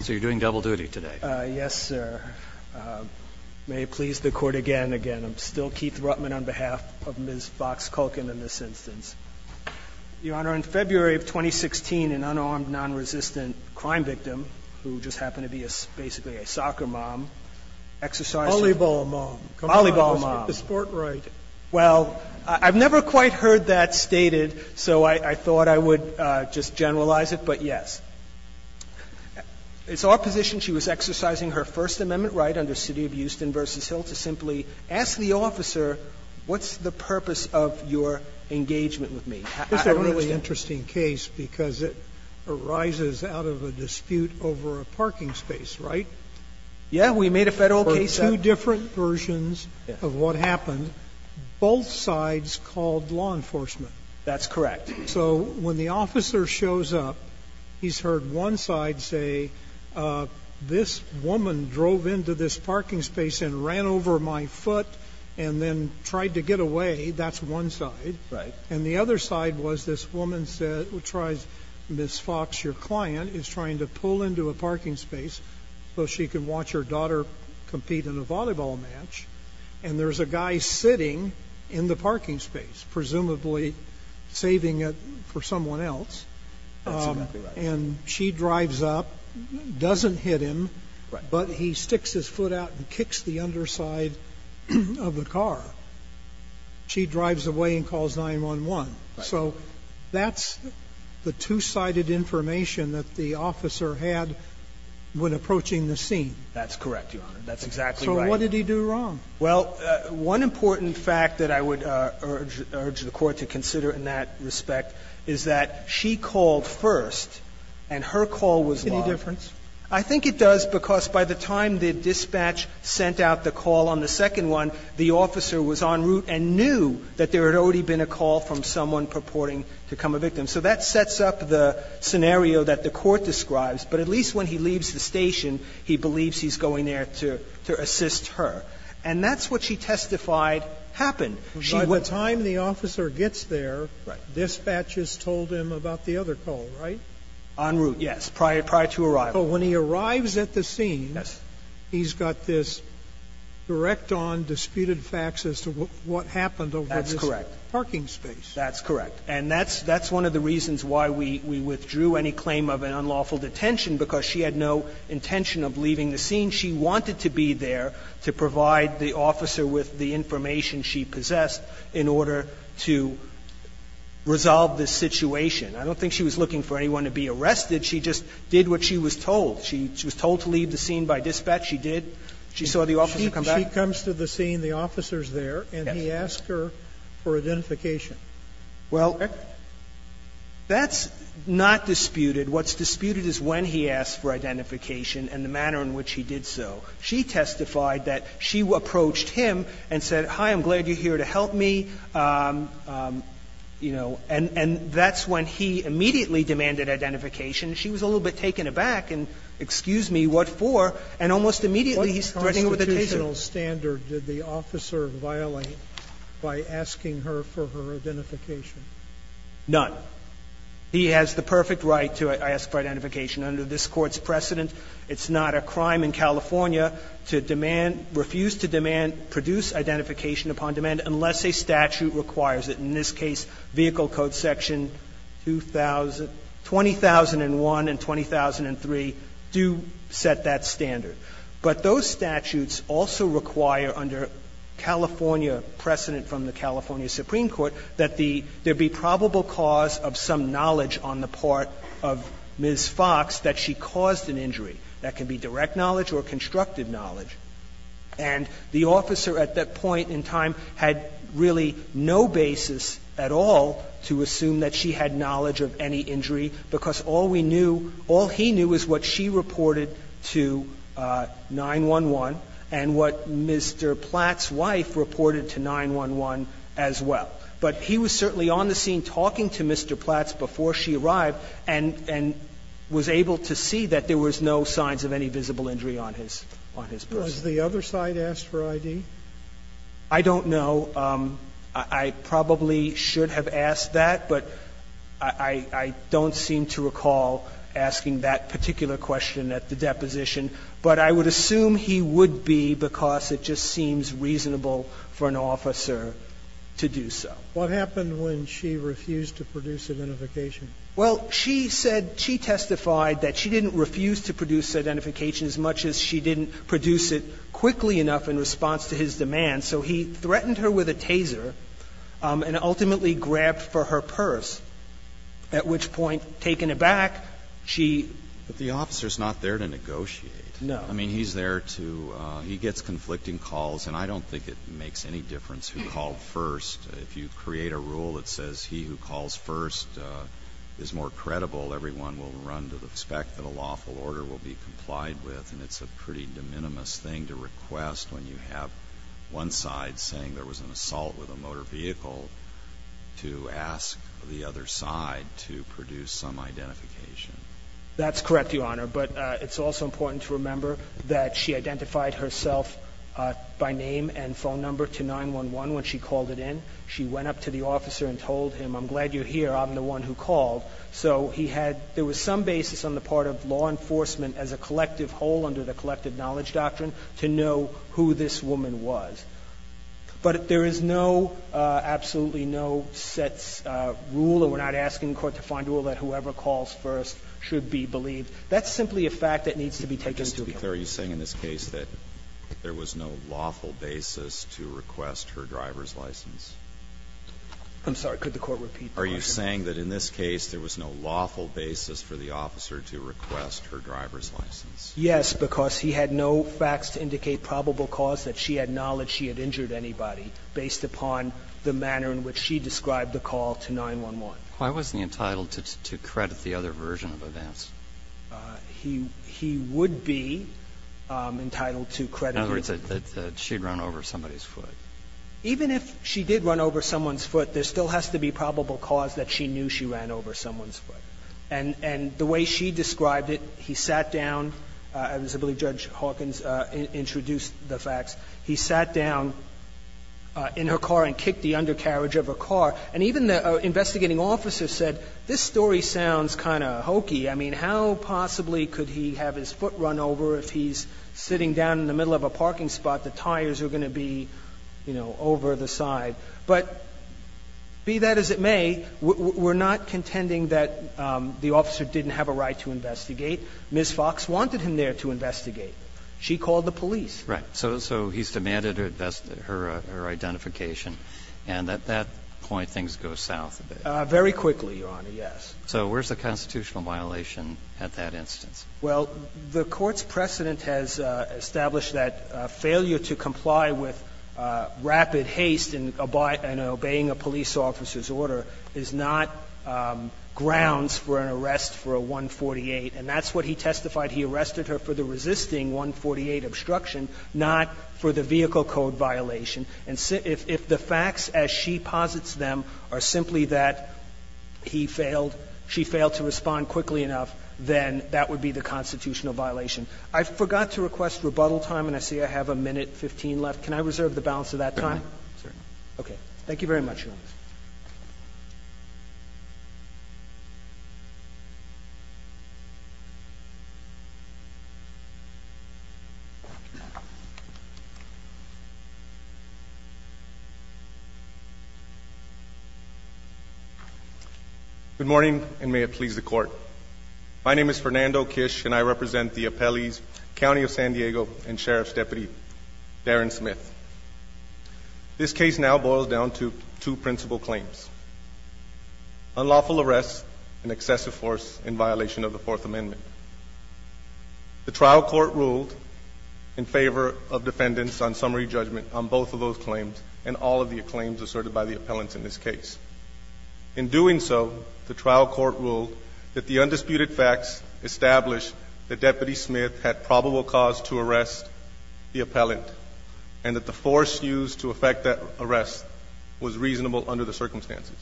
So you're doing double duty today? Yes, sir. May it please the court again, again, I'm still Keith Ruttman on behalf of Ms. Fox Kuhlken in this instance. Your Honor, in February of 2016, an unarmed, non-resistant crime victim, who just happened to be basically a soccer mom, exercised her- Volleyball mom. Volleyball mom. The sport right. Well, I've never quite heard that stated, so I thought I would just generalize it, but yes. It's our position she was exercising her First Amendment right under City of Houston v. Hill to simply ask the officer, what's the purpose of your engagement with me? I don't understand. This is a really interesting case because it arises out of a dispute over a parking space, right? Yeah, we made a Federal case that- For two different versions of what happened, both sides called law enforcement. That's correct. So when the officer shows up, he's heard one side say, this woman drove into this parking space and ran over my foot and then tried to get away, that's one side. Right. And the other side was this woman said, who tries, Ms. Fox, your client is trying to pull into a parking space so she can watch her daughter compete in a volleyball match. And there's a guy sitting in the parking space, presumably saving it for someone else, and she drives up, doesn't hit him, but he sticks his foot out and kicks the underside of the car. She drives away and calls 911. So that's the two-sided information that the officer had when approaching the scene. That's correct, Your Honor. That's exactly right. And what did he do wrong? Well, one important fact that I would urge the Court to consider in that respect is that she called first, and her call was locked. Any difference? I think it does, because by the time the dispatch sent out the call on the second one, the officer was en route and knew that there had already been a call from someone purporting to become a victim. So that sets up the scenario that the Court describes. But at least when he leaves the station, he believes he's going there to assist her. And that's what she testified happened. She was. But by the time the officer gets there, dispatch has told him about the other call, right? En route, yes, prior to arrival. But when he arrives at the scene, he's got this direct-on disputed facts as to what happened over this parking space. That's correct. And that's one of the reasons why we withdrew any claim of an unlawful detention, because she had no intention of leaving the scene. She wanted to be there to provide the officer with the information she possessed in order to resolve this situation. I don't think she was looking for anyone to be arrested. She just did what she was told. She was told to leave the scene by dispatch. She did. She saw the officer come back. She comes to the scene, the officer's there, and he asks her for identification. Well, that's not disputed. What's disputed is when he asked for identification and the manner in which he did so. She testified that she approached him and said, hi, I'm glad you're here to help me, you know, and that's when he immediately demanded identification. She was a little bit taken aback and, excuse me, what for? And almost immediately he's threatening with a detention. What additional standard did the officer violate by asking her for her identification? None. He has the perfect right to ask for identification under this Court's precedent. It's not a crime in California to demand, refuse to demand, produce identification upon demand unless a statute requires it. In this case, Vehicle Code Section 2000, 2001 and 2003 do set that standard. But those statutes also require under California precedent from the California Supreme Court that the – there be probable cause of some knowledge on the part of Ms. Fox that she caused an injury. That can be direct knowledge or constructive knowledge. And the officer at that point in time had really no basis at all to assume that she had knowledge of any injury, because all we knew, all he knew is what she reported to 911 and what Mr. Platt's wife reported to 911 as well. But he was certainly on the scene talking to Mr. Platt before she arrived and was able to see that there was no signs of any visible injury on his person. Was the other side asked for ID? I don't know. I probably should have asked that, but I don't seem to recall asking that particular question at the deposition. But I would assume he would be, because it just seems reasonable for an officer to do so. What happened when she refused to produce identification? Well, she said – she testified that she didn't refuse to produce identification as much as she didn't produce it quickly enough in response to his demand. So he threatened her with a taser and ultimately grabbed for her purse, at which point, taken aback, she – But the officer's not there to negotiate. No. I mean, he's there to – he gets conflicting calls, and I don't think it makes any difference who called first. If you create a rule that says he who calls first is more credible, everyone will run to the expect that a lawful order will be complied with, and it's a pretty de minimis thing to request when you have one side saying there was an assault with a motor vehicle to ask the other side to produce some identification. That's correct, Your Honor. But it's also important to remember that she identified herself by name and phone number to 911 when she called it in. She went up to the officer and told him, I'm glad you're here. I'm the one who called. So he had – there was some basis on the part of law enforcement as a collective whole under the collective knowledge doctrine to know who this woman was. But there is no – absolutely no set rule, or we're not asking the Court to find a set rule that whoever calls first should be believed. That's simply a fact that needs to be taken into account. Alitoso, are you saying in this case that there was no lawful basis to request her driver's license? I'm sorry. Could the Court repeat the question? Are you saying that in this case there was no lawful basis for the officer to request her driver's license? Yes, because he had no facts to indicate probable cause that she had knowledge she had injured anybody based upon the manner in which she described the call to 911. Why wasn't he entitled to credit the other version of events? He would be entitled to credit the other. In other words, that she had run over somebody's foot. Even if she did run over someone's foot, there still has to be probable cause that she knew she ran over someone's foot. And the way she described it, he sat down, as I believe Judge Hawkins introduced the facts, he sat down in her car and kicked the undercarriage of her car. And even the investigating officer said, this story sounds kind of hokey. I mean, how possibly could he have his foot run over if he's sitting down in the middle of a parking spot, the tires are going to be, you know, over the side. But be that as it may, we're not contending that the officer didn't have a right to investigate. Ms. Fox wanted him there to investigate. She called the police. Right. So he's demanded her identification. And at that point, things go south a bit. Very quickly, Your Honor, yes. So where's the constitutional violation at that instance? Well, the Court's precedent has established that failure to comply with rapid haste in obeying a police officer's order is not grounds for an arrest for a 148. And that's what he testified. He arrested her for the resisting 148 obstruction, not for the vehicle code violation. And if the facts, as she posits them, are simply that he failed, she failed to respond quickly enough, then that would be the constitutional violation. I forgot to request rebuttal time, and I see I have a minute 15 left. Can I reserve the balance of that time? Thank you very much, Your Honor. Good morning, and may it please the Court. My name is Fernando Kish, and I represent the appellees, County of San Diego, and Sheriff's Deputy, Darren Smith. This case now boils down to two principal claims, unlawful arrest, and excessive force in violation of the Fourth Amendment. The trial court ruled in favor of defendants on summary judgment on both of those claims and all of the claims asserted by the appellants in this case. In doing so, the trial court ruled that the undisputed facts established that Deputy Smith's claim that the force used to effect that arrest was reasonable under the circumstances.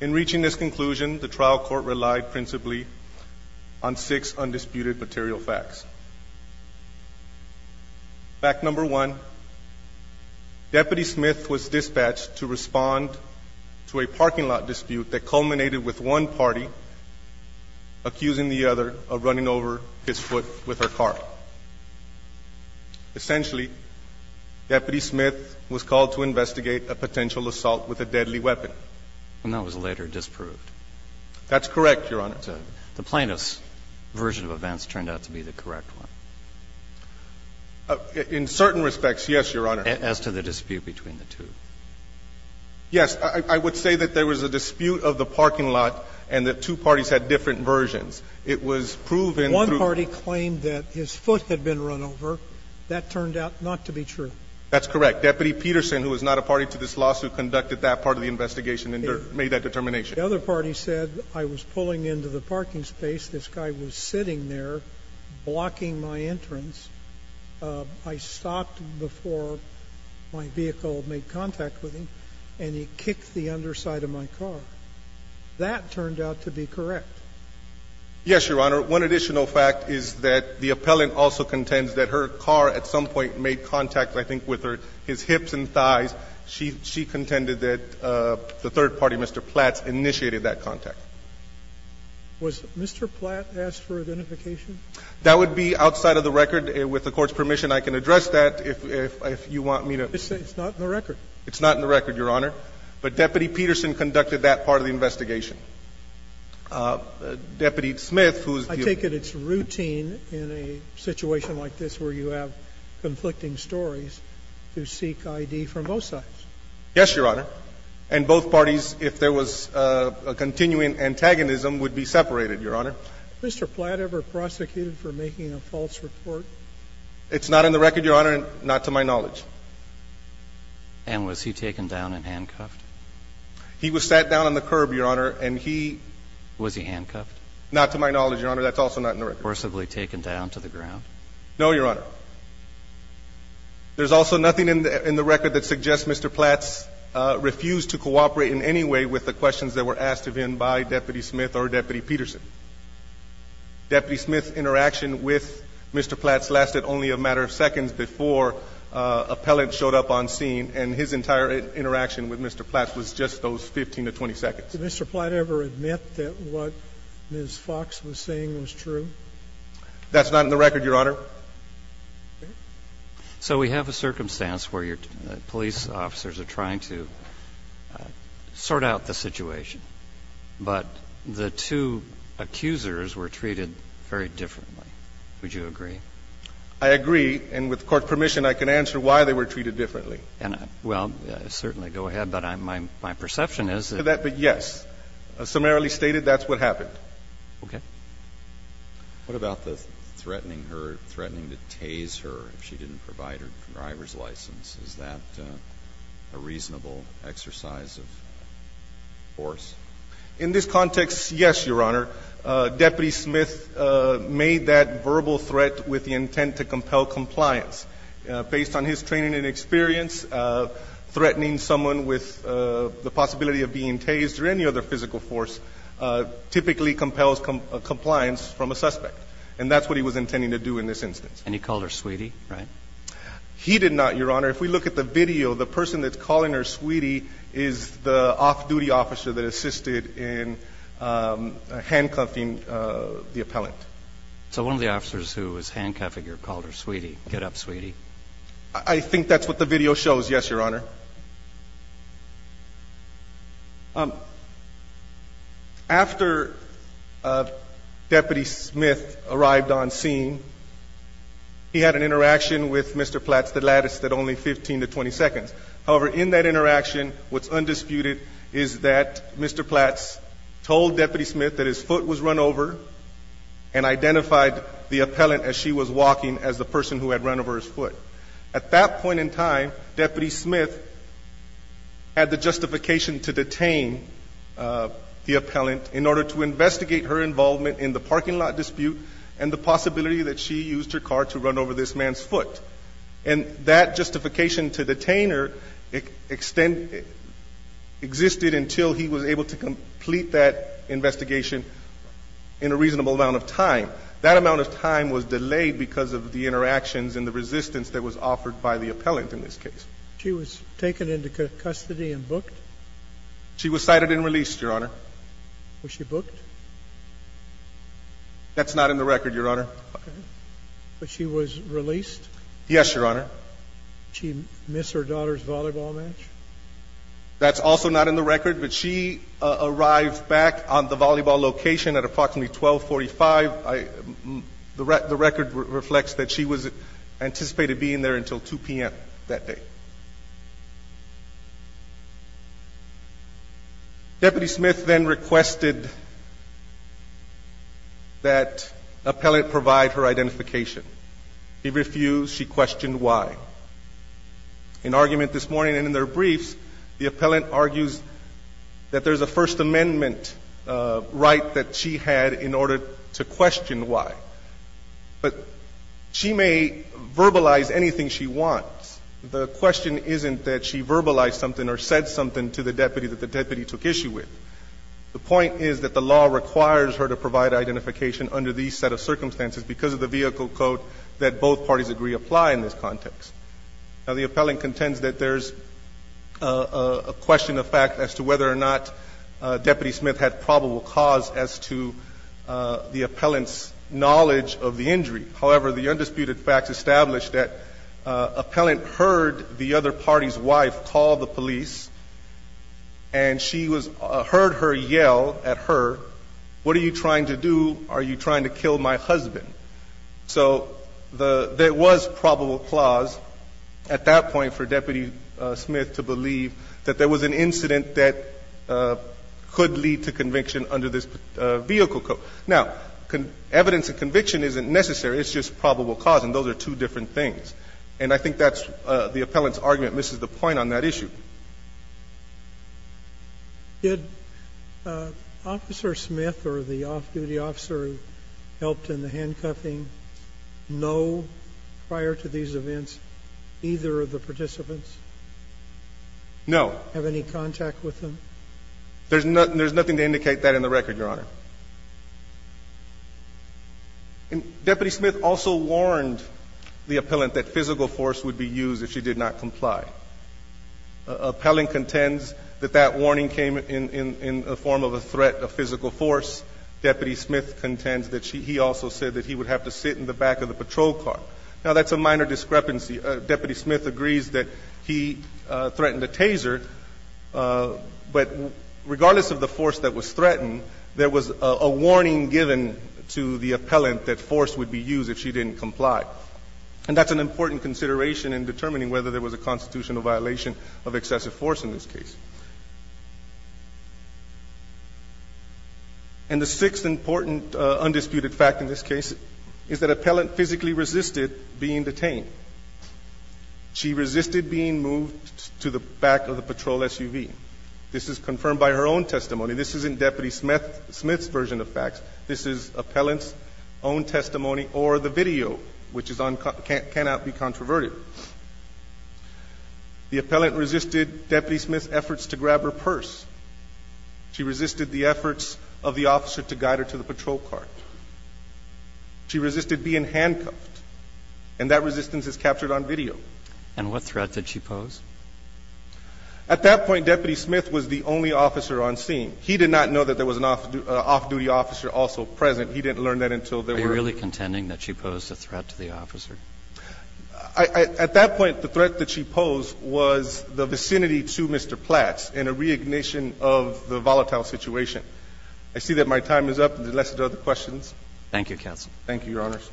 In reaching this conclusion, the trial court relied principally on six undisputed material facts. Fact number one, Deputy Smith was dispatched to respond to a parking lot dispute that culminated with one party accusing the other of running over his foot with her car. Essentially, Deputy Smith was called to investigate a potential assault with a deadly weapon. And that was later disproved. That's correct, Your Honor. The plaintiff's version of events turned out to be the correct one. In certain respects, yes, Your Honor. As to the dispute between the two. Yes. I would say that there was a dispute of the parking lot and that two parties had different versions. It was proven through the two parties. The plaintiff claimed that his foot had been run over. That turned out not to be true. That's correct. Deputy Peterson, who was not a party to this lawsuit, conducted that part of the investigation and made that determination. The other party said, I was pulling into the parking space, this guy was sitting there blocking my entrance, I stopped before my vehicle made contact with him, and he kicked the underside of my car. That turned out to be correct. Yes, Your Honor. One additional fact is that the appellant also contends that her car at some point made contact, I think, with her his hips and thighs. She contended that the third party, Mr. Platts, initiated that contact. Was Mr. Platts asked for identification? That would be outside of the record. With the Court's permission, I can address that if you want me to. It's not in the record. It's not in the record, Your Honor. But Deputy Peterson conducted that part of the investigation. Deputy Smith, who's the other party to this lawsuit, conducted that part of the investigation. I take it it's routine in a situation like this where you have conflicting stories to seek ID from both sides. Yes, Your Honor. And both parties, if there was a continuing antagonism, would be separated, Your Honor. Was Mr. Platt ever prosecuted for making a false report? It's not in the record, Your Honor, and not to my knowledge. And was he taken down and handcuffed? He was sat down on the curb, Your Honor, and he was he handcuffed? Not to my knowledge, Your Honor. That's also not in the record. Forcibly taken down to the ground? No, Your Honor. There's also nothing in the record that suggests Mr. Platts refused to cooperate in any way with the questions that were asked of him by Deputy Smith or Deputy Peterson. Deputy Smith's interaction with Mr. Platts lasted only a matter of seconds before the federal appellant showed up on scene, and his entire interaction with Mr. Platts was just those 15 to 20 seconds. Did Mr. Platt ever admit that what Ms. Fox was saying was true? That's not in the record, Your Honor. So we have a circumstance where your police officers are trying to sort out the situation. But the two accusers were treated very differently. Would you agree? I agree. And with Court permission, I can answer why they were treated differently. Well, certainly go ahead. But my perception is that they were treated differently. Yes. Summarily stated, that's what happened. Okay. What about the threatening her, threatening to tase her if she didn't provide her driver's license? Is that a reasonable exercise of force? In this context, yes, Your Honor. Deputy Smith made that verbal threat with the intent to compel compliance. Based on his training and experience, threatening someone with the possibility of being tased or any other physical force typically compels compliance from a suspect. And that's what he was intending to do in this instance. And he called her sweetie, right? He did not, Your Honor. If we look at the video, the person that's calling her sweetie is the off-duty officer that assisted in handcuffing the appellant. So one of the officers who was handcuffing her called her sweetie. Get up, sweetie. I think that's what the video shows, yes, Your Honor. After Deputy Smith arrived on scene, he had an interaction with Mr. Platts, the lattice, that only 15 to 20 seconds. However, in that interaction, what's undisputed is that Mr. Platts told Deputy Smith that his foot was run over and identified the appellant as she was walking as the person who had run over his foot. At that point in time, Deputy Smith had the justification to detain the appellant in order to investigate her involvement in the parking lot dispute and the possibility that she used her car to run over this man's foot. And that justification to detain her extended – existed until he was able to complete that investigation in a reasonable amount of time. That amount of time was delayed because of the interactions and the resistance that was offered by the appellant in this case. She was taken into custody and booked? She was cited and released, Your Honor. Was she booked? That's not in the record, Your Honor. Okay. But she was released? Yes, Your Honor. Did she miss her daughter's volleyball match? That's also not in the record, but she arrived back on the volleyball location at approximately 1245. The record reflects that she was anticipated being there until 2 p.m. that day. Deputy Smith then requested that appellant provide her identification. He refused. She questioned why. In argument this morning and in their briefs, the appellant argues that there's a First Amendment right that she had in order to question why. But she may verbalize anything she wants. The question isn't that she verbalized something or said something to the deputy that the deputy took issue with. The point is that the law requires her to provide identification under these set of conditions. And the question is whether or not the deputy Smith had probable cause as to the appellant's knowledge of the injury. However, the undisputed facts establish that appellant heard the other party's wife call the police and she was heard her yell at her, what are you trying to do? So there was probable cause at that point for Deputy Smith to believe that there was an incident that could lead to conviction under this vehicle code. Now, evidence of conviction isn't necessary. It's just probable cause, and those are two different things. And I think that's the appellant's argument misses the point on that issue. Sotomayor, did Officer Smith or the off-duty officer who helped in the handcuffing know prior to these events, either of the participants? No. Have any contact with them? There's nothing to indicate that in the record, Your Honor. And Deputy Smith also warned the appellant that physical force would be used if she did not comply. Appellant contends that that warning came in the form of a threat of physical force. Deputy Smith contends that she also said that he would have to sit in the back of the patrol car. Now, that's a minor discrepancy. Deputy Smith agrees that he threatened a taser, but regardless of the force that was threatened, there was a warning given to the appellant that force would be used if she didn't comply. And that's an important consideration in determining whether there was a constitutional violation of excessive force in this case. And the sixth important undisputed fact in this case is that appellant physically resisted being detained. She resisted being moved to the back of the patrol SUV. This is confirmed by her own testimony. This isn't Deputy Smith's version of facts. This is appellant's own testimony or the video, which cannot be controverted. The appellant resisted Deputy Smith's efforts to grab her purse. She resisted the efforts of the officer to guide her to the patrol car. She resisted being handcuffed. And that resistance is captured on video. And what threat did she pose? At that point, Deputy Smith was the only officer on scene. He did not know that there was an off-duty officer also present. He didn't learn that until there were. Are you really contending that she posed a threat to the officer? At that point, the threat that she posed was the vicinity to Mr. Platz in a re-ignition of the volatile situation. I see that my time is up. Unless there are other questions? Thank you, counsel. Thank you, Your Honors.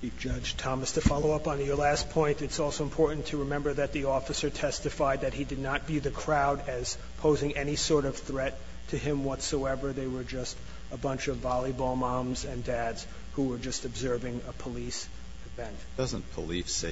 Chief Judge Thomas, to follow up on your last point, it's also important to remember that the officer testified that he did not view the crowd as posing any sort of threat to him whatsoever. They were just a bunch of volleyball moms and dads who were just observing a police event. Doesn't police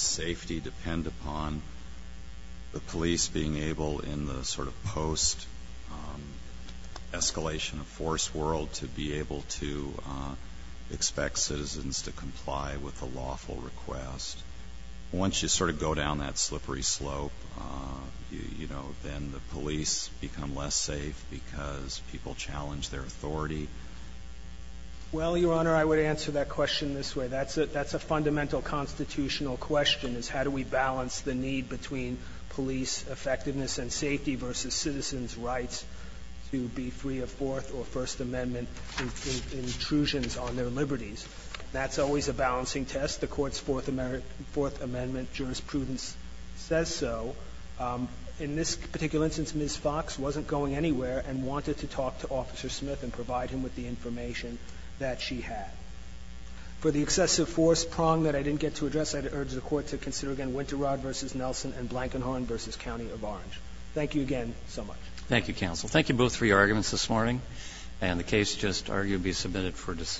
safety depend upon the police being able in the sort of post-escalation of force world to be able to expect citizens to comply with the lawful request? Once you sort of go down that slippery slope, you know, then the police become less safe because people challenge their authority? Well, Your Honor, I would answer that question this way. That's a fundamental constitutional question, is how do we balance the need between police effectiveness and safety versus citizens' rights to be free of Fourth or First Amendment intrusions on their liberties. That's always a balancing test. The Court's Fourth Amendment jurisprudence says so. In this particular instance, Ms. Fox wasn't going anywhere and wanted to talk to Officer Smith and provide him with the information that she had. For the excessive force prong that I didn't get to address, I'd urge the Court to consider again Winterrod v. Nelson and Blankenhorn v. County of Orange. Thank you again so much. Thank you, counsel. Thank you both for your arguments this morning. And the case just argued to be submitted for discussion.